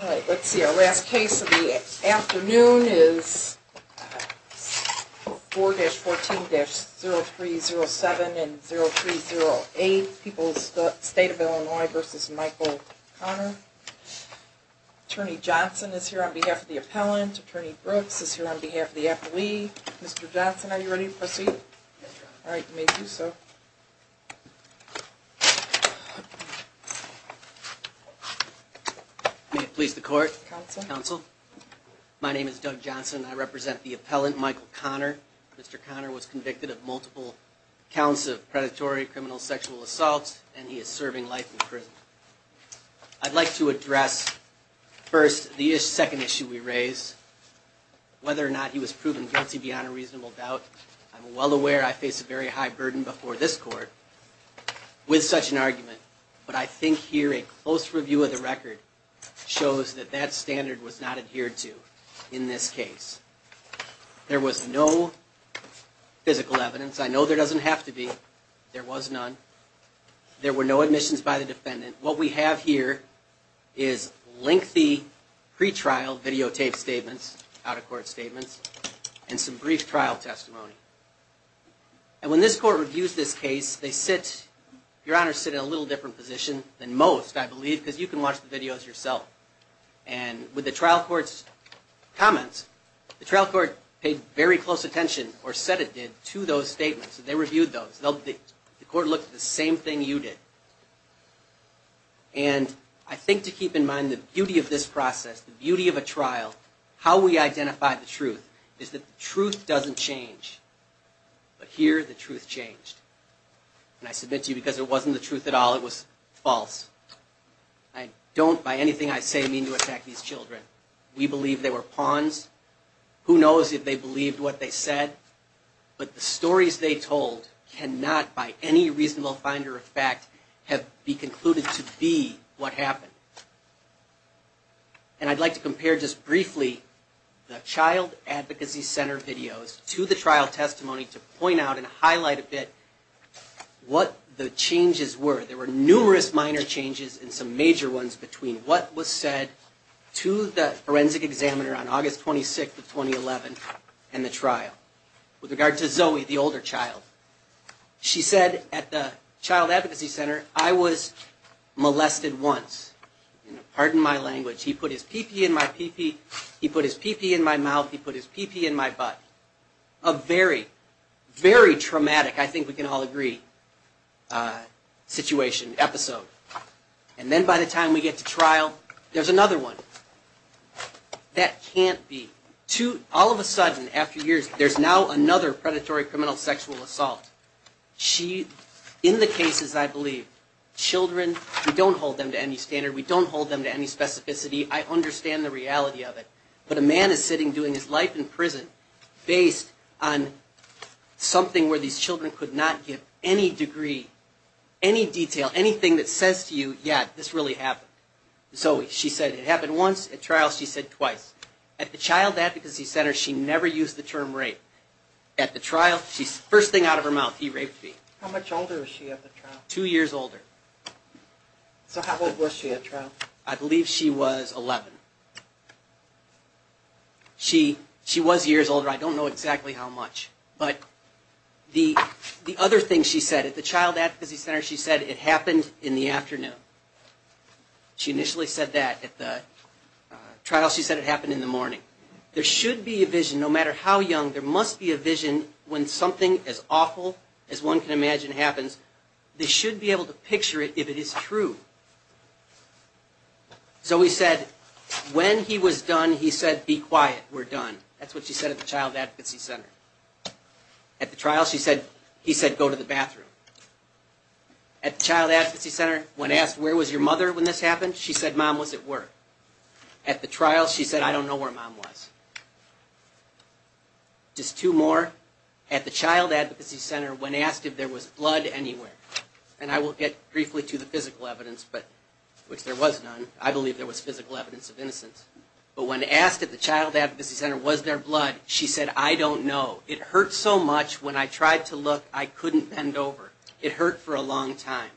Let's see, our last case of the afternoon is 4-14-0307 and 0308, People's State of Illinois v. Michael Connor. Attorney Johnson is here on behalf of the appellant. Attorney Brooks is here on behalf of the appellee. Mr. Johnson, are you ready to proceed? All right, you may do so. May it please the court? Counsel. Counsel. My name is Doug Johnson. I represent the appellant, Michael Connor. Mr. Connor was convicted of multiple counts of predatory criminal sexual assault, and he is serving life in prison. I'd like to address, first, the second issue we raise, whether or not he was proven guilty beyond a reasonable doubt. I'm well aware I face a very high burden before this court with such an argument, but I think here a close review of the record shows that that standard was not adhered to in this case. There was no physical evidence. I know there doesn't have to be. There was none. And what we have here is lengthy pretrial videotaped statements, out-of-court statements, and some brief trial testimony. And when this court reviews this case, they sit, Your Honor, sit in a little different position than most, I believe, because you can watch the videos yourself. And with the trial court's comments, the trial court paid very close attention, or said it did, to those statements. They reviewed those. The court looked at the same thing you did. And I think to keep in mind the beauty of this process, the beauty of a trial, how we identify the truth, is that the truth doesn't change, but here the truth changed. And I submit to you because it wasn't the truth at all. It was false. I don't, by anything I say, mean to attack these children. We believe they were pawns. Who knows if they believed what they said. But the stories they told cannot, by any reasonable finder of fact, have been concluded to be what happened. And I'd like to compare just briefly the child advocacy center videos to the trial testimony to point out and highlight a bit what the changes were. There were numerous minor changes and some major ones between what was said to the forensic examiner on August 26th of 2011 and the trial. With regard to Zoe, the older child, she said at the child advocacy center, I was molested once. Pardon my language. He put his pee-pee in my pee-pee, he put his pee-pee in my mouth, he put his pee-pee in my butt. A very, very traumatic, I think we can all agree, situation, episode. And then by the time we get to trial, there's another one. That can't be. All of a sudden, after years, there's now another predatory criminal sexual assault. She, in the cases I believe, children, we don't hold them to any standard, we don't hold them to any specificity. I understand the reality of it. But a man is sitting doing his life in prison based on something where these children could not give any degree, any detail, anything that says to you, yeah, this really happened. Zoe, she said it happened once, at trial she said twice. At the child advocacy center, she never used the term rape. At the trial, first thing out of her mouth, he raped me. How much older was she at the trial? Two years older. So how old was she at trial? I believe she was 11. She was years older, I don't know exactly how much. But the other thing she said, at the child advocacy center, she said it happened in the afternoon. She initially said that at the trial. She said it happened in the morning. There should be a vision, no matter how young, there must be a vision when something as awful as one can imagine happens. They should be able to picture it if it is true. Zoe said, when he was done, he said, be quiet, we're done. That's what she said at the child advocacy center. At the trial, he said, go to the bathroom. At the child advocacy center, when asked, where was your mother when this happened? She said, mom was at work. At the trial, she said, I don't know where mom was. Just two more. At the child advocacy center, when asked if there was blood anywhere, and I will get briefly to the physical evidence, which there was none, I believe there was physical evidence of innocence. But when asked if the child advocacy center was there blood, she said, I don't know. It hurt so much, when I tried to look, I couldn't bend over. It hurt for a long time.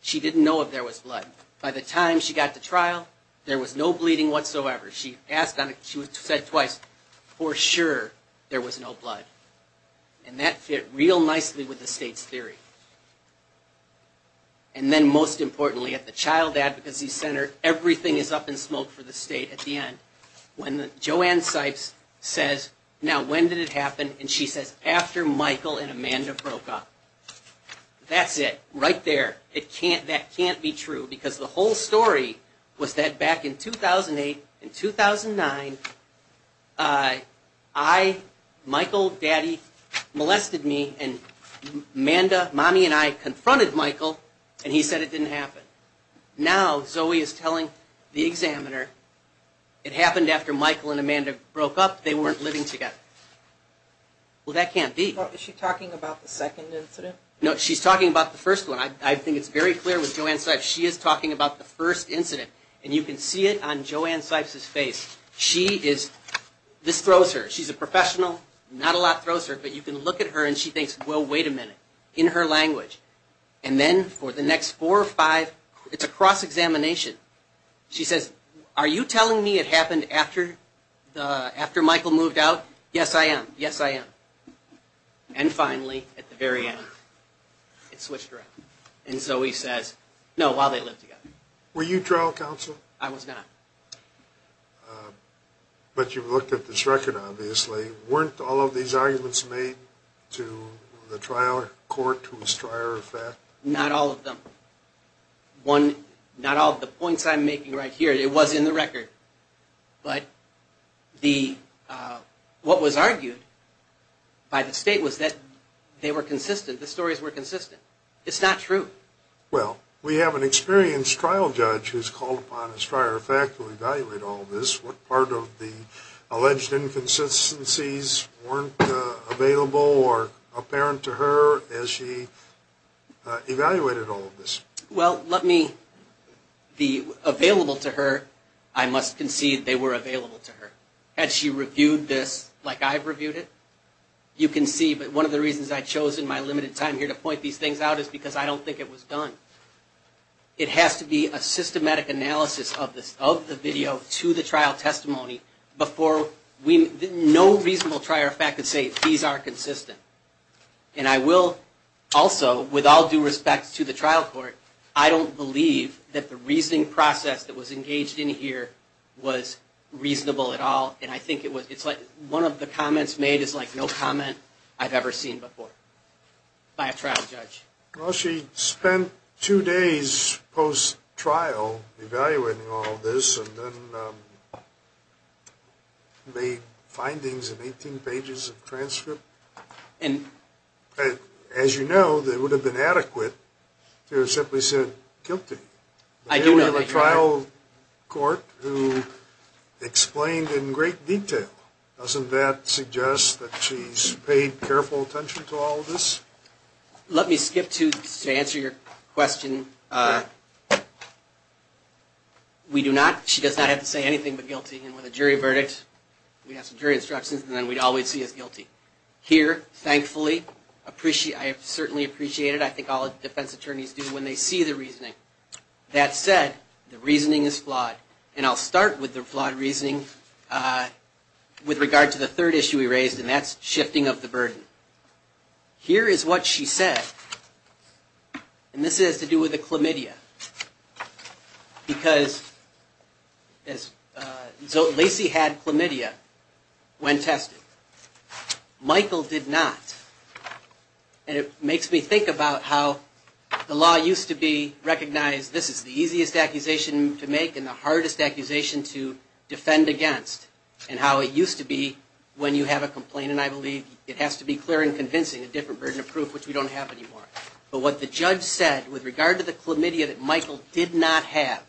She didn't know if there was blood. By the time she got to trial, there was no bleeding whatsoever. She said twice, for sure, there was no blood. And that fit real nicely with the state's theory. And then most importantly, at the child advocacy center, everything is up in smoke for the state at the end. When Joanne Sipes says, now when did it happen? And she says, after Michael and Amanda broke up. That's it. Right there. That can't be true, because the whole story was that back in 2008 and 2009, I, Michael, daddy, molested me, and Amanda, mommy and I confronted Michael, and he said it didn't happen. Now, Zoe is telling the examiner, it happened after Michael and Amanda broke up, they weren't living together. Well, that can't be. Is she talking about the second incident? No, she's talking about the first one. I think it's very clear with Joanne Sipes, she is talking about the first incident. And you can see it on Joanne Sipes' face. She is, this throws her, she's a professional, not a lot throws her, but you can look at her and she thinks, well, wait a minute. In her language. And then for the next four or five, it's a cross-examination. She says, are you telling me it happened after Michael moved out? Yes, I am. Yes, I am. And finally, at the very end, it switched around. And Zoe says, no, while they lived together. Were you trial counsel? I was not. But you looked at this record, obviously. Weren't all of these arguments made to the trial court who was trier of fact? Not all of them. Not all of the points I'm making right here, it was in the record. But what was argued by the state was that they were consistent, the stories were consistent. It's not true. Well, we have an experienced trial judge who's called upon as trier of fact to evaluate all of this. What part of the alleged inconsistencies weren't available or apparent to her as she evaluated all of this? Well, let me, the available to her, I must concede they were available to her. Had she reviewed this like I've reviewed it, you can see. But one of the reasons I've chosen my limited time here to point these things out is because I don't think it was done. It has to be a systematic analysis of the video to the trial testimony before no reasonable trier of fact can say these are consistent. And I will also, with all due respect to the trial court, I don't believe that the reasoning process that was engaged in here was reasonable at all. And I think it's like one of the comments made is like no comment I've ever seen before by a trial judge. Well, she spent two days post-trial evaluating all of this and then made findings in 18 pages of transcript. And as you know, they would have been adequate to have simply said guilty. We have a trial court who explained in great detail. Doesn't that suggest that she's paid careful attention to all of this? Let me skip to answer your question. We do not, she does not have to say anything but guilty. And with a jury verdict, we have some jury instructions and then we'd always see as guilty. Here, thankfully, I certainly appreciate it. I think all defense attorneys do when they see the reasoning. That said, the reasoning is flawed. And I'll start with the flawed reasoning with regard to the third issue we raised and that's shifting of the burden. Here is what she said. And this has to do with the chlamydia because Lacey had chlamydia when tested. Michael did not. And it makes me think about how the law used to be recognized this is the easiest accusation to make and the hardest accusation to defend against and how it used to be when you have a complaint. And I believe it has to be clear and convincing, a different burden of proof, which we don't have anymore. But what the judge said with regard to the chlamydia that Michael did not have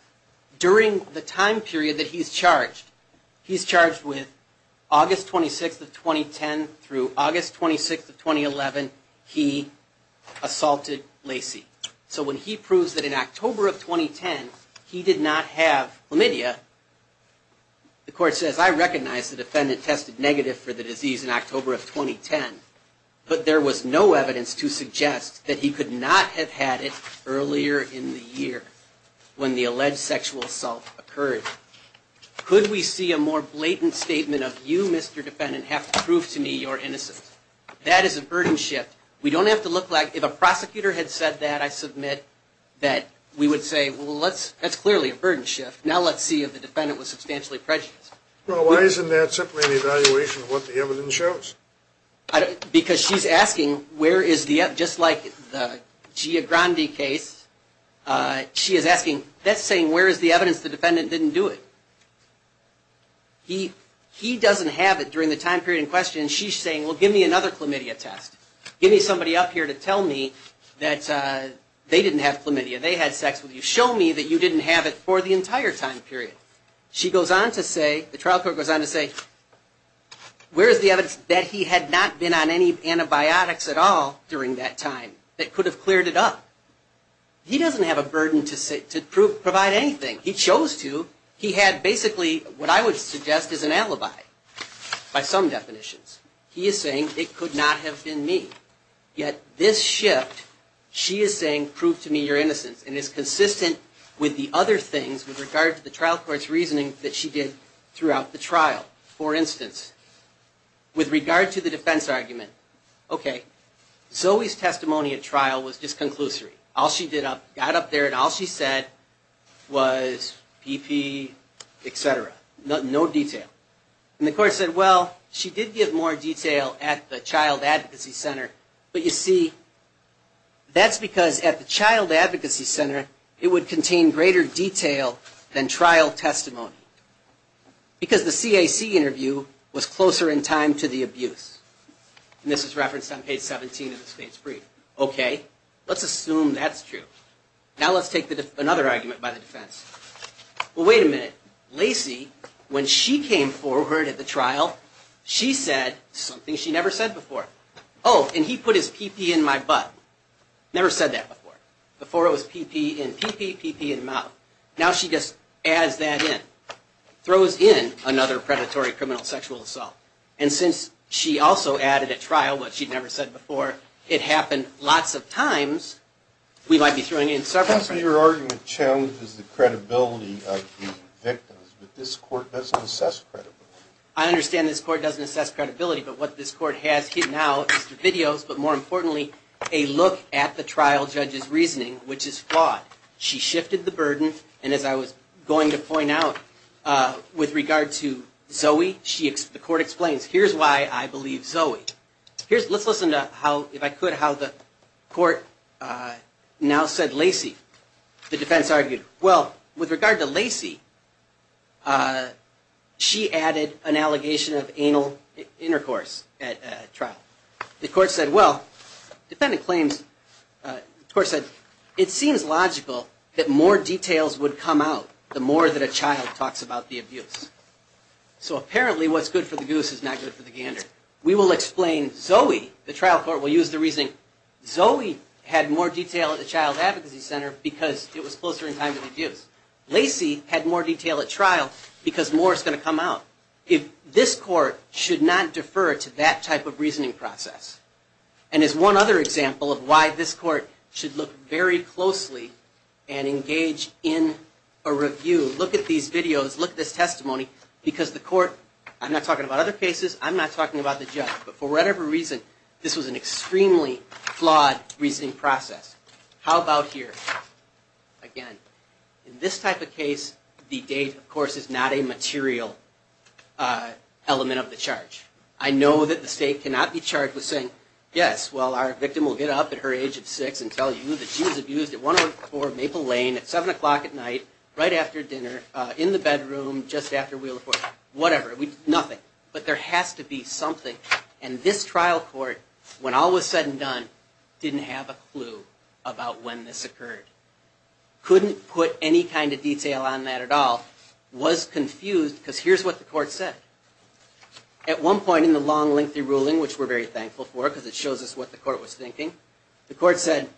during the time period that he's charged, he's charged with August 26th of 2010 through August 26th of 2011, he assaulted Lacey. So when he proves that in October of 2010, he did not have chlamydia, the court says, I recognize the defendant tested negative for the disease in October of 2010, but there was no evidence to suggest that he could not have had it earlier in the year when the alleged sexual assault occurred. Could we see a more blatant statement of you, Mr. Defendant, have to prove to me you're innocent? That is a burden shift. We don't have to look like if a prosecutor had said that, I submit that we would say, well, that's clearly a burden shift. Now let's see if the defendant was substantially prejudiced. Well, why isn't there simply an evaluation of what the evidence shows? Because she's asking, just like the Gia Grande case, she is asking, that's saying where is the evidence the defendant didn't do it? He doesn't have it during the time period in question, and she's saying, well, give me another chlamydia test. Give me somebody up here to tell me that they didn't have chlamydia, they had sex with you. Show me that you didn't have it for the entire time period. She goes on to say, the trial court goes on to say, where is the evidence that he had not been on any antibiotics at all during that time that could have cleared it up? He doesn't have a burden to provide anything. He chose to. He had basically what I would suggest is an alibi by some definitions. He is saying it could not have been me. Yet this shift, she is saying, prove to me your innocence. And it's consistent with the other things with regard to the trial court's reasoning that she did throughout the trial. For instance, with regard to the defense argument, OK, Zoe's testimony at trial was disconclusory. All she did up, got up there, and all she said was PP, et cetera. No detail. And the court said, well, she did give more detail at the child advocacy center. But you see, that's because at the child advocacy center, it would contain greater detail than trial testimony. Because the CAC interview was closer in time to the abuse. And this is referenced on page 17 of the state's brief. OK, let's assume that's true. Now let's take another argument by the defense. Well, wait a minute. Lacey, when she came forward at the trial, she said something she never said before. Oh, and he put his PP in my butt. Never said that before. Before it was PP in PP, PP in mouth. Now she just adds that in. Throws in another predatory criminal sexual assault. And since she also added at trial what she'd never said before, it happened lots of times. We might be throwing in several. Your argument challenges the credibility of the victims. But this court doesn't assess credibility. I understand this court doesn't assess credibility. But what this court has now is the videos, but more importantly, a look at the trial judge's reasoning, which is flawed. She shifted the burden. And as I was going to point out, with regard to Zoe, the court explains, here's why I believe Zoe. Let's listen to how, if I could, how the court now said Lacey. The defense argued, well, with regard to Lacey, she added an allegation of anal intercourse at trial. The court said, well, defendant claims, the court said, it seems logical that more details would come out the more that a child talks about the abuse. So apparently what's good for the goose is not good for the gander. We will explain Zoe. The trial court will use the reasoning, Zoe had more detail at the Child Advocacy Center because it was closer in time to the abuse. Lacey had more detail at trial because more is going to come out. This court should not defer to that type of reasoning process. And as one other example of why this court should look very closely and engage in a review, look at these videos, look at this testimony, because the court, I'm not talking about other cases, I'm not talking about the judge, but for whatever reason, this was an extremely flawed reasoning process. How about here? Again, in this type of case, the date, of course, is not a material element of the charge. I know that the state cannot be charged with saying, yes, well, our victim will get up at her age of six and tell you that she was abused at 104 Maple Lane at 7 o'clock at night, right after dinner, in the bedroom, just after we reported, whatever, nothing. But there has to be something. And this trial court, when all was said and done, didn't have a clue about when this occurred. Couldn't put any kind of detail on that at all. Was confused because here's what the court said. At one point in the long, lengthy ruling, which we're very thankful for because it shows us what the court was thinking, the court said,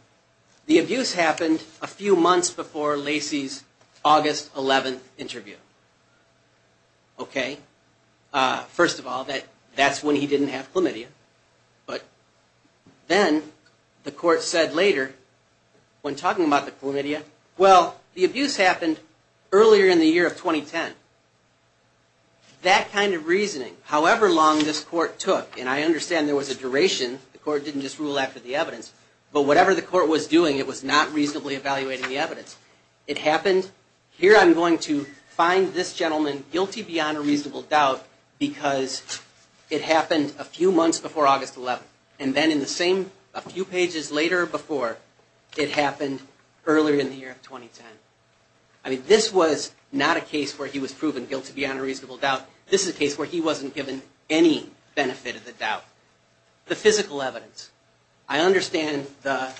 the abuse happened a few months before Lacey's August 11th interview. Okay. First of all, that's when he didn't have chlamydia. But then the court said later, when talking about the chlamydia, well, the abuse happened earlier in the year of 2010. That kind of reasoning, however long this court took, and I understand there was a duration. The court didn't just rule after the evidence. But whatever the court was doing, it was not reasonably evaluating the evidence. It happened, here I'm going to find this gentleman guilty beyond a reasonable doubt because it happened a few months before August 11th. And then in the same, a few pages later before, it happened earlier in the year of 2010. I mean, this was not a case where he was proven guilty beyond a reasonable doubt. This is a case where he wasn't given any benefit of the doubt. The physical evidence. I understand the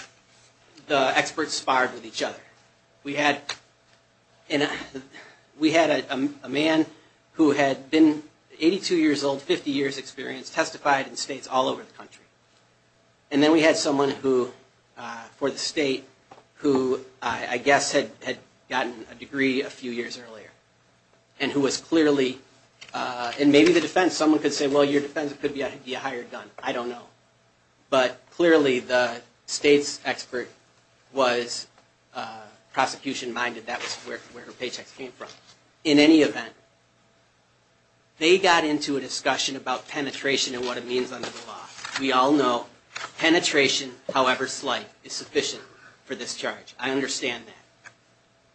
experts sparred with each other. We had a man who had been 82 years old, 50 years experience, testified in states all over the country. And then we had someone who, for the state, who I guess had gotten a degree a few years earlier. And who was clearly, and maybe the defense, someone could say, well, your defense could be a higher gun. I don't know. But clearly the state's expert was prosecution minded. That was where her paychecks came from. In any event, they got into a discussion about penetration and what it means under the law. We all know penetration, however slight, is sufficient for this charge. I understand that.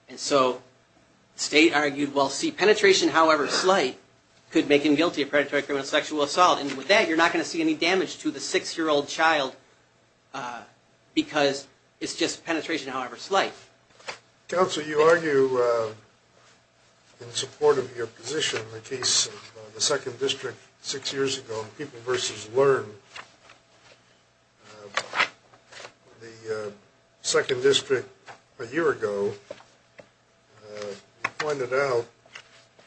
And so the state argued, well, see, penetration, however slight, could make him guilty of predatory criminal sexual assault. And with that, you're not going to see any damage to the six-year-old child because it's just penetration, however slight. Counsel, you argue in support of your position in the case of the second district six years ago, People v. Learn. The second district a year ago pointed out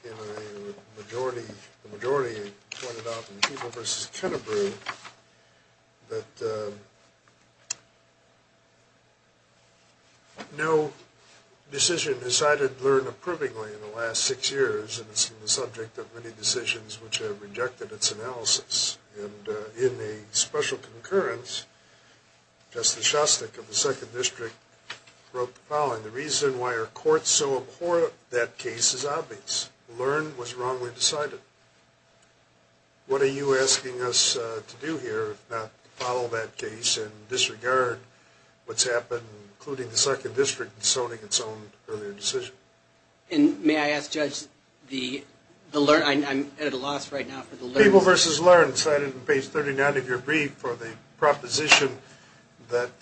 in a majority, the majority pointed out in People v. Kennebrew that no decision decided Learn approvingly in the last six years. And it's been the subject of many decisions which have rejected its analysis. And in a special concurrence, Justice Shostak of the second district wrote the following. The reason why our courts so abhor that case is obvious. Learn was wrongly decided. What are you asking us to do here if not follow that case and disregard what's happened, including the second district, in zoning its own earlier decision? And may I ask, Judge, the Learn? I'm at a loss right now for the Learn. People v. Learn cited in page 39 of your brief for the proposition that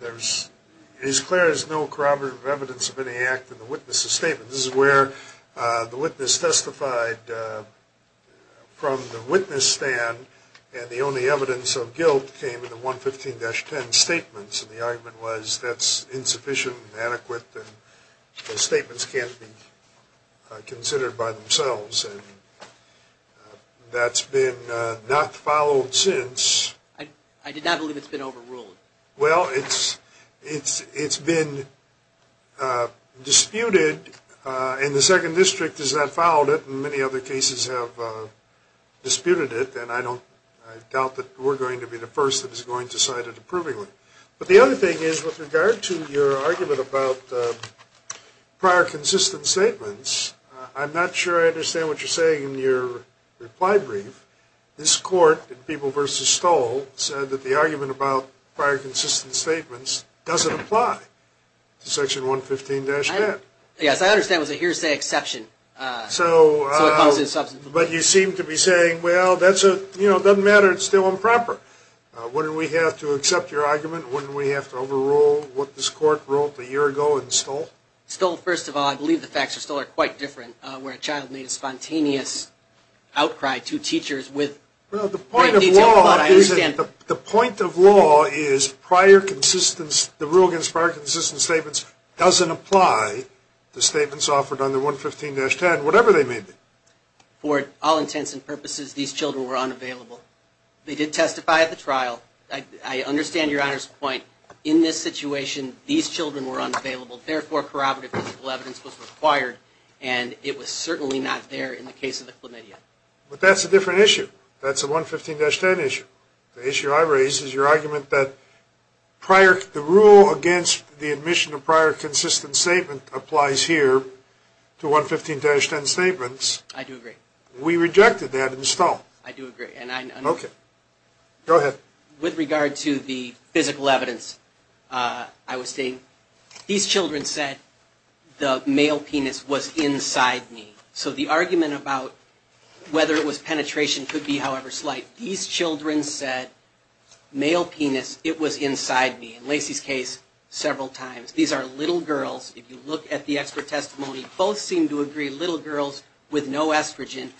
there's, it is clear there's no corroborative evidence of any act in the witness's statement. This is where the witness testified from the witness stand, and the only evidence of guilt came in the 115-10 statements. And the argument was that's insufficient and inadequate, and the statements can't be considered by themselves. And that's been not followed since. I did not believe it's been overruled. Well, it's been disputed, and the second district has not followed it, and many other cases have disputed it, and I doubt that we're going to be the first that is going to cite it approvingly. But the other thing is, with regard to your argument about prior consistent statements, I'm not sure I understand what you're saying in your reply brief. This court in People v. Stoll said that the argument about prior consistent statements doesn't apply to section 115-10. Yes, I understand it was a hearsay exception. So it falls in substance. But you seem to be saying, well, that's a, you know, it doesn't matter, it's still improper. Wouldn't we have to accept your argument? Wouldn't we have to overrule what this court ruled a year ago in Stoll? Stoll, first of all, I believe the facts of Stoll are quite different. Where a child made a spontaneous outcry to teachers with great detail. The point of law is prior consistent statements doesn't apply to statements offered under 115-10, whatever they may be. For all intents and purposes, these children were unavailable. They did testify at the trial. I understand Your Honor's point. In this situation, these children were unavailable. Therefore, corroborative physical evidence was required, and it was certainly not there in the case of the Chlamydia. But that's a different issue. That's a 115-10 issue. The issue I raise is your argument that prior, the rule against the admission of prior consistent statement applies here to 115-10 statements. I do agree. We rejected that in Stoll. I do agree. Okay. Go ahead. With regard to the physical evidence, I would say these children said, the male penis was inside me. So the argument about whether it was penetration could be however slight. These children said, male penis, it was inside me. In Lacey's case, several times. These are little girls. If you look at the expert testimony, both seem to agree little girls with no estrogen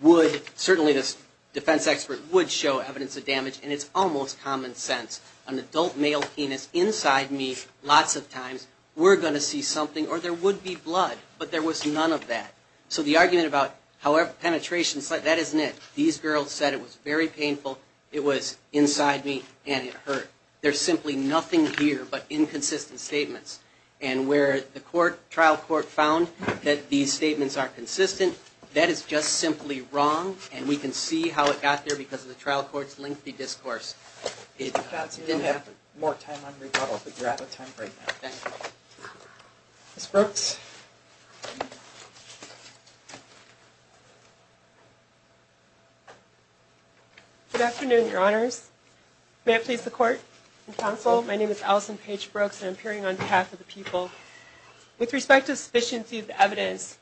would, certainly this defense expert would show evidence of damage, and it's almost common sense. An adult male penis inside me lots of times, we're going to see something, or there would be blood, but there was none of that. So the argument about penetration, that isn't it. These girls said it was very painful, it was inside me, and it hurt. There's simply nothing here but inconsistent statements. And where the trial court found that these statements are consistent, that is just simply wrong, and we can see how it got there because of the trial court's lengthy discourse. We didn't have more time on rebuttal, but you're out of time right now. Thank you. Ms. Brooks? Good afternoon, Your Honors. May it please the court and counsel, my name is Allison Paige Brooks, and I'm appearing on behalf of the people. With respect to sufficiency of the evidence,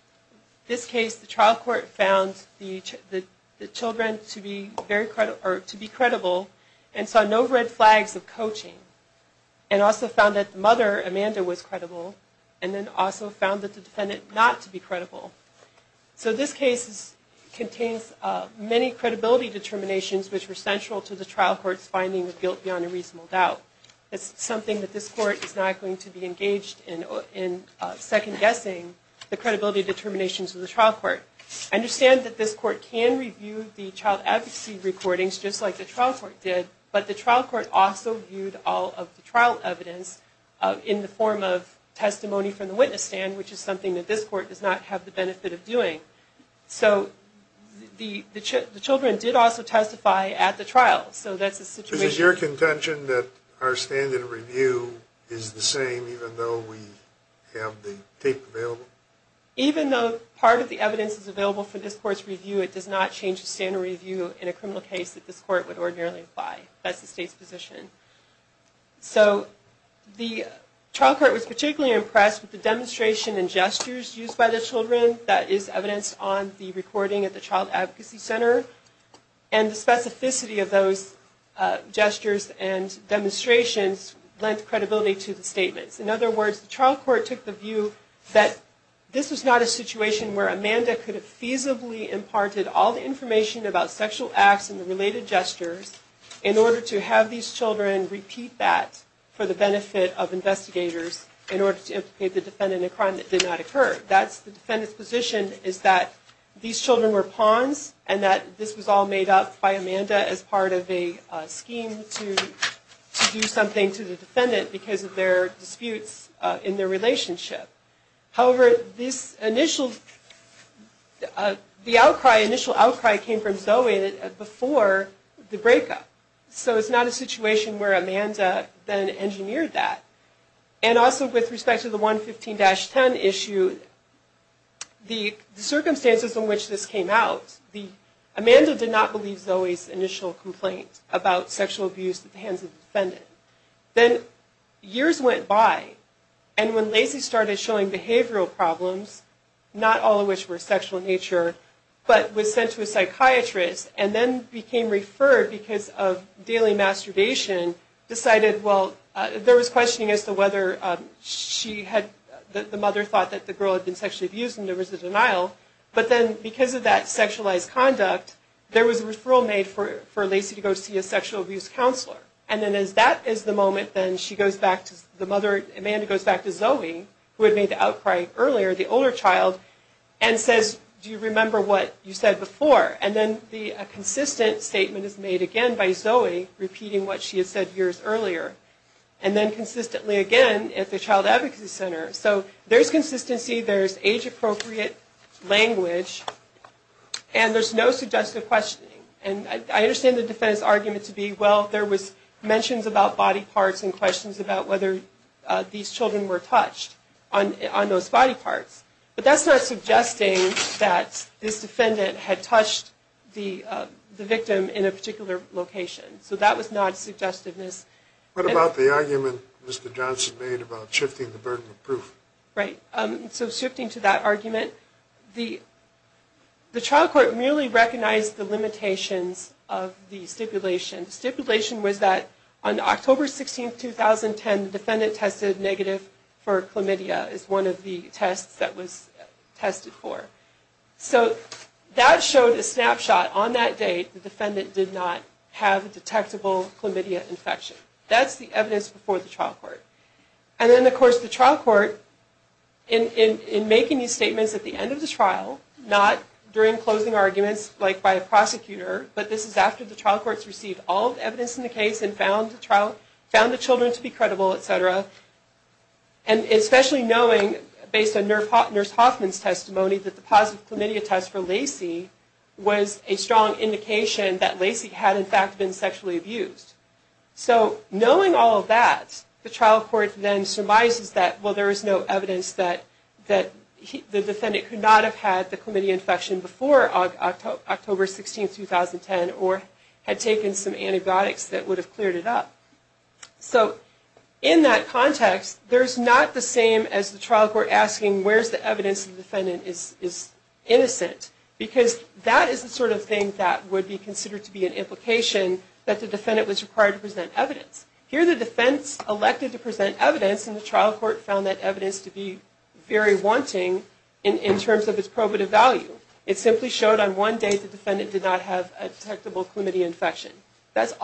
this case, the trial court found the children to be credible and saw no red flags of coaching, and also found that the mother, Amanda, was credible, and then also found that the defendant not to be credible. So this case contains many credibility determinations which were central to the trial court's finding of guilt beyond a reasonable doubt. It's something that this court is not going to be engaged in second-guessing, the credibility determinations of the trial court. I understand that this court can review the child advocacy recordings, just like the trial court did, but the trial court also viewed all of the trial evidence in the form of testimony from the witness stand, which is something that this court does not have the benefit of doing. So the children did also testify at the trial, so that's the situation. Is it your contention that our standard review is the same, even though we have the tape available? Even though part of the evidence is available for this court's review, it does not change the standard review in a criminal case that this court would ordinarily apply. That's the state's position. So the trial court was particularly impressed with the demonstration and gestures used by the children that is evidenced on the recording at the child advocacy center, and the specificity of those gestures and demonstrations lent credibility to the statements. In other words, the trial court took the view that this was not a situation where Amanda could have feasibly imparted all the information about sexual acts and the related gestures in order to have these children repeat that for the benefit of investigators in order to implicate the defendant in a crime that did not occur. The defendant's position is that these children were pawns and that this was all made up by Amanda as part of a scheme to do something to the defendant because of their disputes in their relationship. However, the initial outcry came from Zoe before the breakup, so it's not a situation where Amanda then engineered that. And also with respect to the 115-10 issue, the circumstances in which this came out, Amanda did not believe Zoe's initial complaint about sexual abuse at the hands of the defendant. Then years went by, and when Lacey started showing behavioral problems, not all of which were sexual in nature, but was sent to a psychiatrist and then became referred because of daily masturbation, decided, well, there was questioning as to whether she had, the mother thought that the girl had been sexually abused and there was a denial, but then because of that sexualized conduct, there was a referral made for Lacey to go see a sexual abuse counselor. And then as that is the moment, then Amanda goes back to Zoe, who had made the outcry earlier, the older child, and says, do you remember what you said before? And then a consistent statement is made again by Zoe, repeating what she had said years earlier, and then consistently again at the Child Advocacy Center. So there's consistency, there's age-appropriate language, and there's no suggestive questioning. And I understand the defendant's argument to be, well, there was mentions about body parts and questions about whether these children were touched on those body parts. But that's not suggesting that this defendant had touched the victim in a particular location. So that was not suggestiveness. What about the argument Mr. Johnson made about shifting the burden of proof? Right. So shifting to that argument, the trial court merely recognized the limitations of the stipulation. The stipulation was that on October 16, 2010, the defendant tested negative for chlamydia, is one of the tests that was tested for. So that showed a snapshot on that date, the defendant did not have a detectable chlamydia infection. That's the evidence before the trial court. And then, of course, the trial court, in making these statements at the end of the trial, not during closing arguments like by a prosecutor, but this is after the trial courts received all of the evidence in the case and found the children to be credible, et cetera, and especially knowing, based on Nurse Hoffman's testimony, that the positive chlamydia test for Lacey was a strong indication that Lacey had, in fact, been sexually abused. So knowing all of that, the trial court then surmises that, well, there is no evidence that the defendant could not have had the chlamydia infection before October 16, 2010 or had taken some antibiotics that would have cleared it up. So in that context, there's not the same as the trial court asking, where's the evidence that the defendant is innocent? Because that is the sort of thing that would be considered to be an implication that the defendant was required to present evidence. Here the defense elected to present evidence, and the trial court found that evidence to be very wanting in terms of its probative value. It simply showed on one date the defendant did not have a detectable chlamydia infection. It's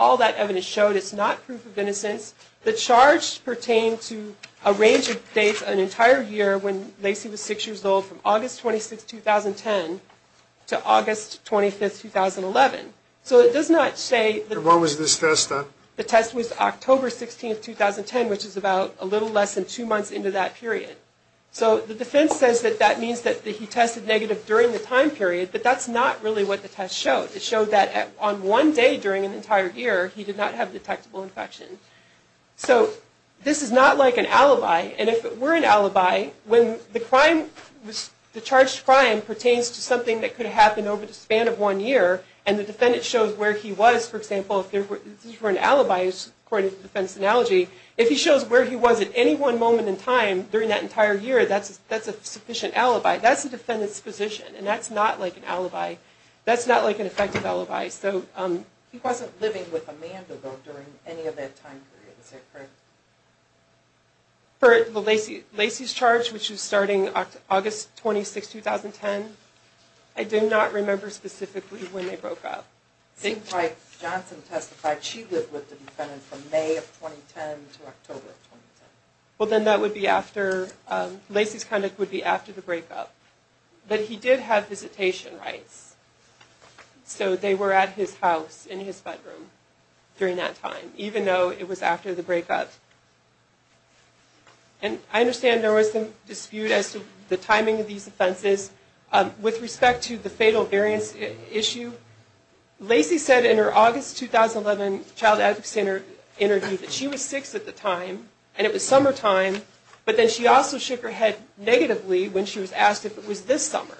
not proof of innocence. The charge pertained to a range of dates, an entire year, when Lacey was six years old, from August 26, 2010 to August 25, 2011. So it does not say that... When was this test done? The test was October 16, 2010, which is about a little less than two months into that period. So the defense says that that means that he tested negative during the time period, but that's not really what the test showed. It showed that on one day during an entire year, he did not have detectable infection. So this is not like an alibi, and if it were an alibi, when the charged crime pertains to something that could happen over the span of one year, and the defendant shows where he was, for example, if this were an alibi, according to the defense analogy, if he shows where he was at any one moment in time during that entire year, that's a sufficient alibi. That's the defendant's position, and that's not like an alibi. That's not like an effective alibi. He wasn't living with Amanda, though, during any of that time period, is that correct? For Lacey's charge, which was starting August 26, 2010, I do not remember specifically when they broke up. It seems like Johnson testified she lived with the defendant from May of 2010 to October of 2010. Well, then that would be after... Lacey's conduct would be after the breakup. But he did have visitation rights. So they were at his house in his bedroom during that time, even though it was after the breakup. And I understand there was some dispute as to the timing of these offenses. With respect to the fatal variance issue, Lacey said in her August 2011 Child Advocacy Center interview that she was six at the time, and it was summertime, but then she also shook her head negatively when she was asked if it was this summer,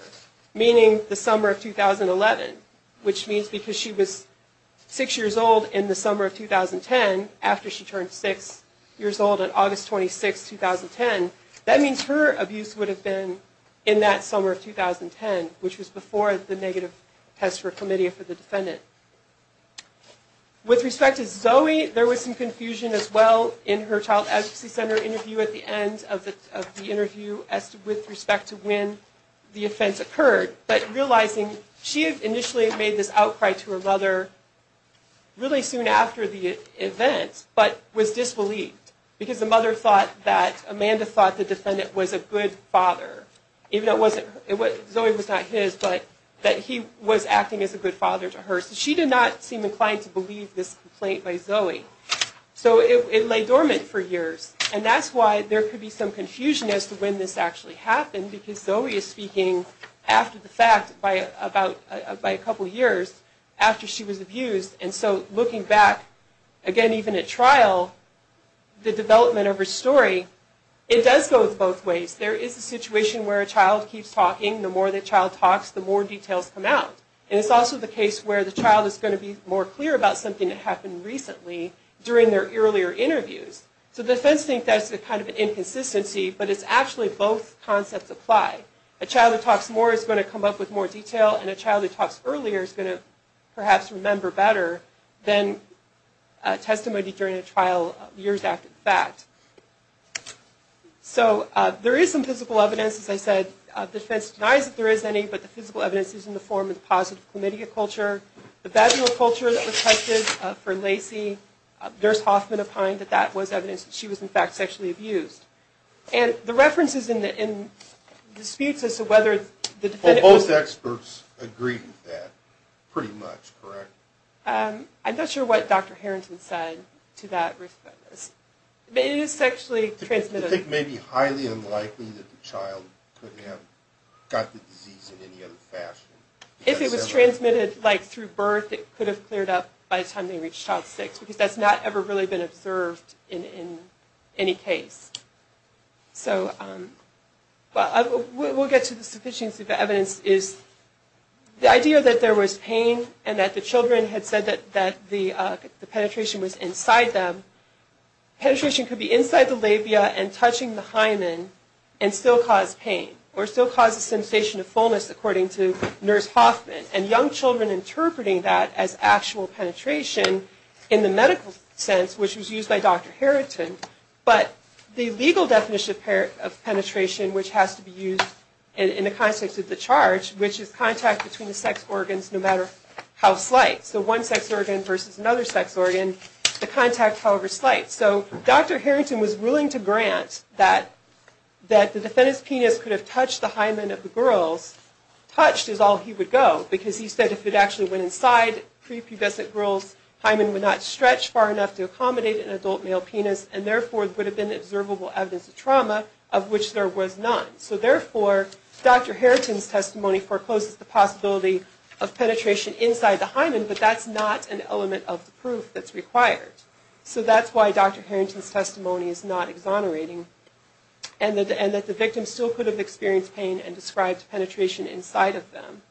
meaning the summer of 2011, which means because she was six years old in the summer of 2010, after she turned six years old on August 26, 2010, that means her abuse would have been in that summer of 2010, which was before the negative test for a committee for the defendant. With respect to Zoe, there was some confusion as well in her Child Advocacy Center interview at the end of the interview with respect to when the offense occurred, but realizing she had initially made this outcry to her mother really soon after the event, but was disbelieved because the mother thought that Amanda thought the defendant was a good father, even though it wasn't... Zoe was not his, but that he was acting as a good father to her. So she did not seem inclined to believe this complaint by Zoe. So it lay dormant for years. And that's why there could be some confusion as to when this actually happened, because Zoe is speaking after the fact by a couple years after she was abused. And so looking back, again, even at trial, the development of her story, it does go both ways. There is a situation where a child keeps talking. The more the child talks, the more details come out. And it's also the case where the child is going to be more clear about something that happened recently during their earlier interviews. So the defense thinks that's kind of an inconsistency, but it's actually both concepts apply. A child that talks more is going to come up with more detail, and a child that talks earlier is going to perhaps remember better than testimony during a trial years after the fact. So there is some physical evidence, as I said. The defense denies that there is any, but the physical evidence is in the form of positive chlamydia culture, the vaginal culture that was tested for Lacey. Nurse Hoffman opined that that was evidence that she was, in fact, sexually abused. And the references in the disputes as to whether the defendant was... Well, both experts agreed with that pretty much, correct? I'm not sure what Dr. Harrington said to that reference. It is sexually transmitted. I think it may be highly unlikely that the child could have got the disease in any other fashion. If it was transmitted, like, through birth, it could have cleared up by the time they reached child six, because that's not ever really been observed in any case. So we'll get to the sufficiency of the evidence. The idea that there was pain and that the children had said that the penetration was inside them, penetration could be inside the labia and touching the hymen and still cause pain or still cause a sensation of fullness, according to Nurse Hoffman, and young children interpreting that as actual penetration in the medical sense, which was used by Dr. Harrington. But the legal definition of penetration, which has to be used in the context of the charge, which is contact between the sex organs no matter how slight, so one sex organ versus another sex organ, the contact, however slight. So Dr. Harrington was willing to grant that the defendant's penis could have touched the hymen of the girls. Touched is all he would go, because he said if it actually went inside prepubescent girls, hymen would not stretch far enough to accommodate an adult male penis, and therefore it would have been observable evidence of trauma of which there was none. So therefore, Dr. Harrington's testimony forecloses the possibility of penetration inside the hymen, but that's not an element of the proof that's required. So that's why Dr. Harrington's testimony is not exonerating, and that the victim still could have experienced pain and described penetration inside of them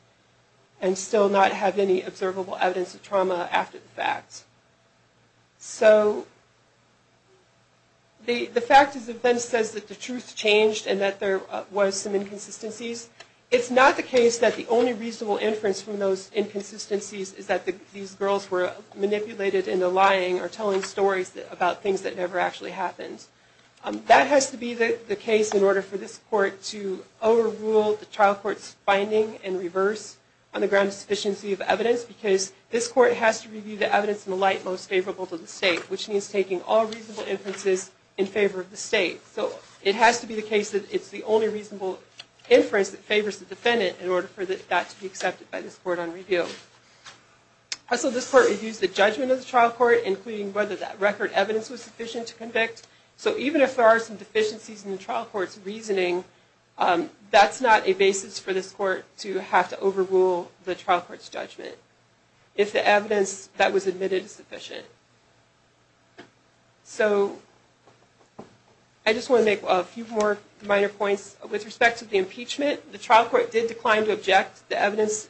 and still not have any observable evidence of trauma after the fact. So the fact is the defense says that the truth changed and that there was some inconsistencies. It's not the case that the only reasonable inference from those inconsistencies is that these girls were manipulated into lying or telling stories about things that never actually happened. That has to be the case in order for this court to overrule the trial court's finding and reverse on the grounds of sufficiency of evidence, because this court has to review the evidence in the light most favorable to the state, which means taking all reasonable inferences in favor of the state. So it has to be the case that it's the only reasonable inference that favors the defendant in order for that to be accepted by this court on review. Also, this court reviews the judgment of the trial court, including whether that record evidence was sufficient to convict. So even if there are some deficiencies in the trial court's reasoning, that's not a basis for this court to have to overrule the trial court's judgment if the evidence that was admitted is sufficient. So, I just want to make a few more minor points. With respect to the impeachment, the trial court did decline to object. The evidence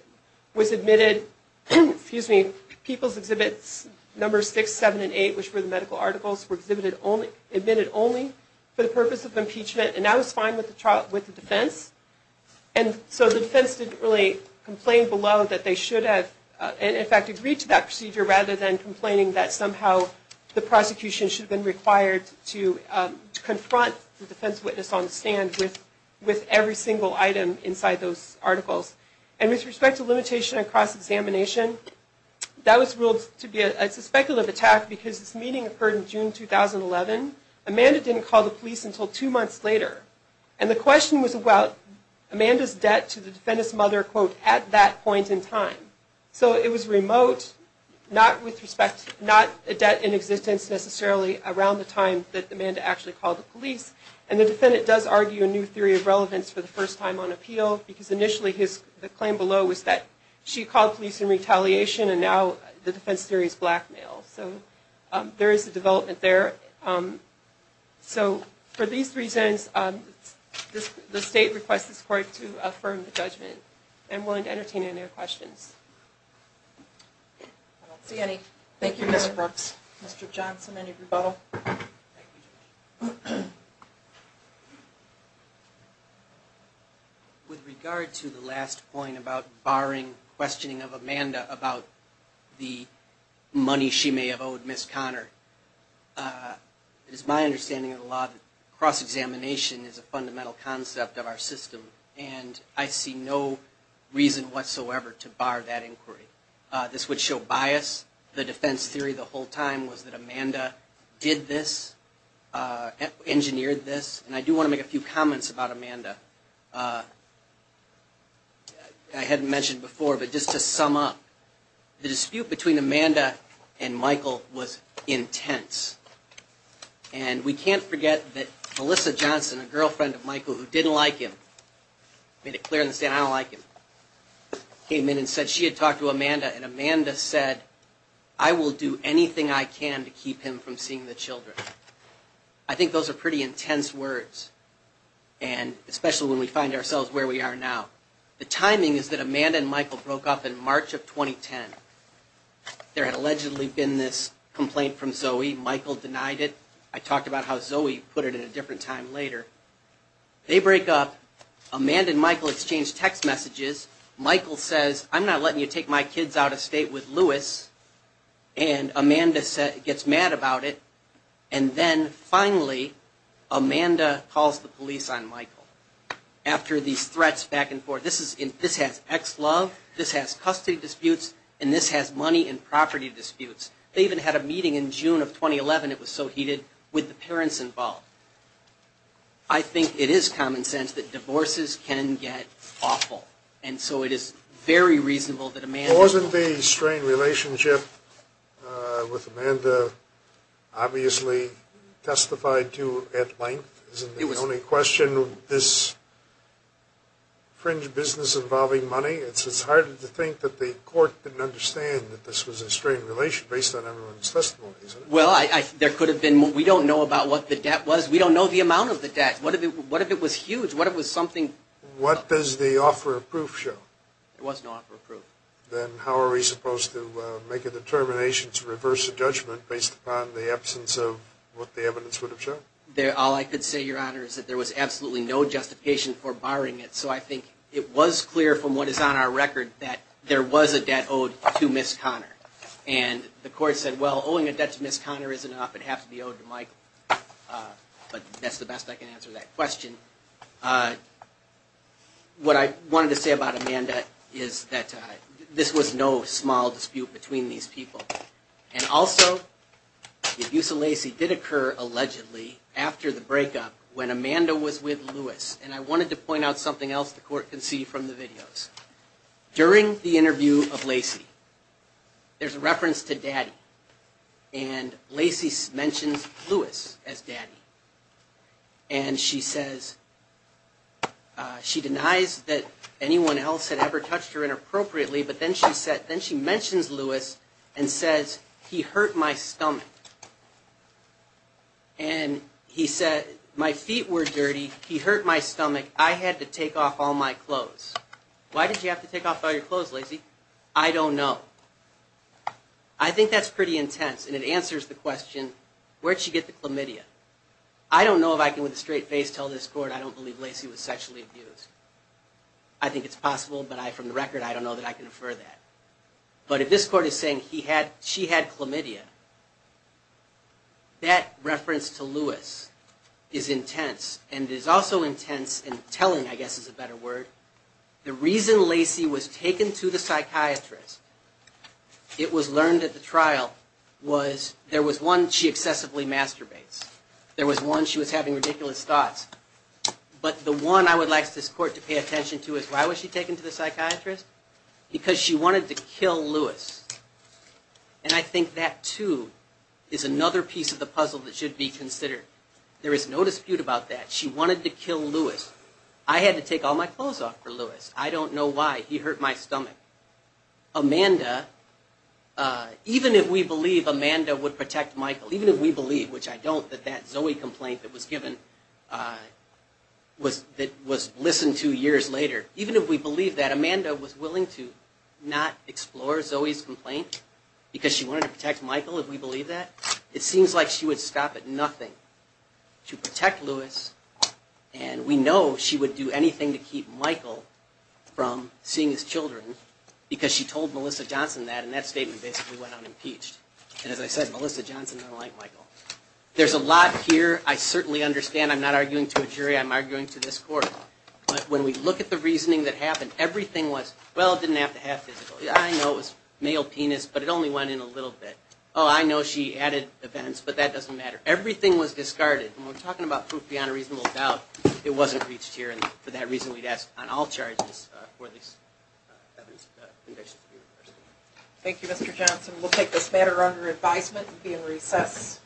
was admitted, excuse me, People's Exhibits No. 6, 7, and 8, which were the medical articles, were admitted only for the purpose of impeachment, and that was fine with the defense. And so the defense didn't really complain below that they should have, in fact, agreed to that procedure rather than complaining that somehow the prosecution should have been required to confront the defense witness on the stand with every single item inside those articles. And with respect to limitation and cross-examination, that was ruled to be a suspected attack because this meeting occurred in June 2011. Amanda didn't call the police until two months later. And the question was about Amanda's debt to the defendant's mother, quote, at that point in time. So it was remote, not with respect, not a debt in existence necessarily around the time that Amanda actually called the police. And the defendant does argue a new theory of relevance for the first time on appeal because initially the claim below was that she called police in retaliation and now the defense theory is blackmail. So there is a development there. So for these reasons, the state requests this court to affirm the judgment. I'm willing to entertain any other questions. I don't see any. Thank you, Ms. Brooks. Mr. Johnson, any rebuttal? With regard to the last point about barring questioning of Amanda about the money she may have owed Ms. Connor, it is my understanding of the law that cross-examination is a fundamental concept of our system. And I see no reason whatsoever to bar that inquiry. This would show bias. The defense theory the whole time was that Amanda did this, engineered this. And I do want to make a few comments about Amanda. I hadn't mentioned before, but just to sum up, the dispute between Amanda and Michael was intense. And we can't forget that Melissa Johnson, a girlfriend of Michael who didn't like him, made it clear in the statement, I don't like him, came in and said she had talked to Amanda and Amanda said, I will do anything I can to keep him from seeing the children. I think those are pretty intense words, especially when we find ourselves where we are now. The timing is that Amanda and Michael broke up in March of 2010. There had allegedly been this complaint from Zoe. Michael denied it. I talked about how Zoe put it at a different time later. They break up. Amanda and Michael exchange text messages. Michael says, I'm not letting you take my kids out of state with Louis. And Amanda gets mad about it. And then finally, Amanda calls the police on Michael. After these threats back and forth, this has ex-love, this has custody disputes, and this has money and property disputes. They even had a meeting in June of 2011, it was so heated, with the parents involved. I think it is common sense that divorces can get awful, and so it is very reasonable that Amanda Wasn't the strained relationship with Amanda obviously testified to at length? Isn't the only question this fringe business involving money? It's harder to think that the court didn't understand that this was a strained relationship based on everyone's testimony. Well, there could have been more. We don't know about what the debt was. We don't know the amount of the debt. What if it was huge? What if it was something? What does the offer of proof show? There was no offer of proof. Then how are we supposed to make a determination to reverse a judgment based upon the absence of what the evidence would have shown? All I could say, Your Honor, is that there was absolutely no justification for barring it. So I think it was clear from what is on our record that there was a debt owed to Ms. Conner. And the court said, well, owing a debt to Ms. Conner is enough. It has to be owed to Michael. But that's the best I can answer that question. What I wanted to say about Amanda is that this was no small dispute between these people. And also, the abuse of Lacey did occur, allegedly, after the breakup when Amanda was with Lewis. And I wanted to point out something else the court can see from the videos. During the interview of Lacey, there's a reference to Daddy. And Lacey mentions Lewis as Daddy. And she says she denies that anyone else had ever touched her inappropriately, but then she mentions Lewis and says, he hurt my stomach. And he said, my feet were dirty. He hurt my stomach. I had to take off all my clothes. Why did you have to take off all your clothes, Lacey? I don't know. I think that's pretty intense. And it answers the question, where'd she get the chlamydia? I don't know if I can with a straight face tell this court I don't believe Lacey was sexually abused. I think it's possible, but from the record, I don't know that I can infer that. But if this court is saying she had chlamydia, that reference to Lewis is intense. And it is also intense in telling, I guess is a better word, the reason Lacey was taken to the psychiatrist, it was learned at the trial, was there was one, she excessively masturbates. There was one, she was having ridiculous thoughts. But the one I would like this court to pay attention to is, why was she taken to the psychiatrist? Because she wanted to kill Lewis. And I think that, too, is another piece of the puzzle that should be considered. There is no dispute about that. She wanted to kill Lewis. I had to take all my clothes off for Lewis. I don't know why. He hurt my stomach. Amanda, even if we believe Amanda would protect Michael, even if we believe, which I don't, that Zoe complaint that was given, that was listened to years later, even if we believe that Amanda was willing to not explore Zoe's complaint, because she wanted to protect Michael, if we believe that, it seems like she would stop at nothing to protect Lewis, and we know she would do anything to keep Michael from seeing his children, because she told Melissa Johnson that, and that statement basically went unimpeached. And as I said, Melissa Johnson didn't like Michael. There's a lot here I certainly understand. I'm not arguing to a jury. I'm arguing to this court. But when we look at the reasoning that happened, everything was, well, it didn't have to have physical. I know it was male penis, but it only went in a little bit. Oh, I know she added events, but that doesn't matter. Everything was discarded. When we're talking about proof beyond a reasonable doubt, it wasn't reached here, and for that reason we'd ask on all charges for these convictions to be reversed. Thank you, Mr. Johnson. We'll take this matter under advisement and be in recess.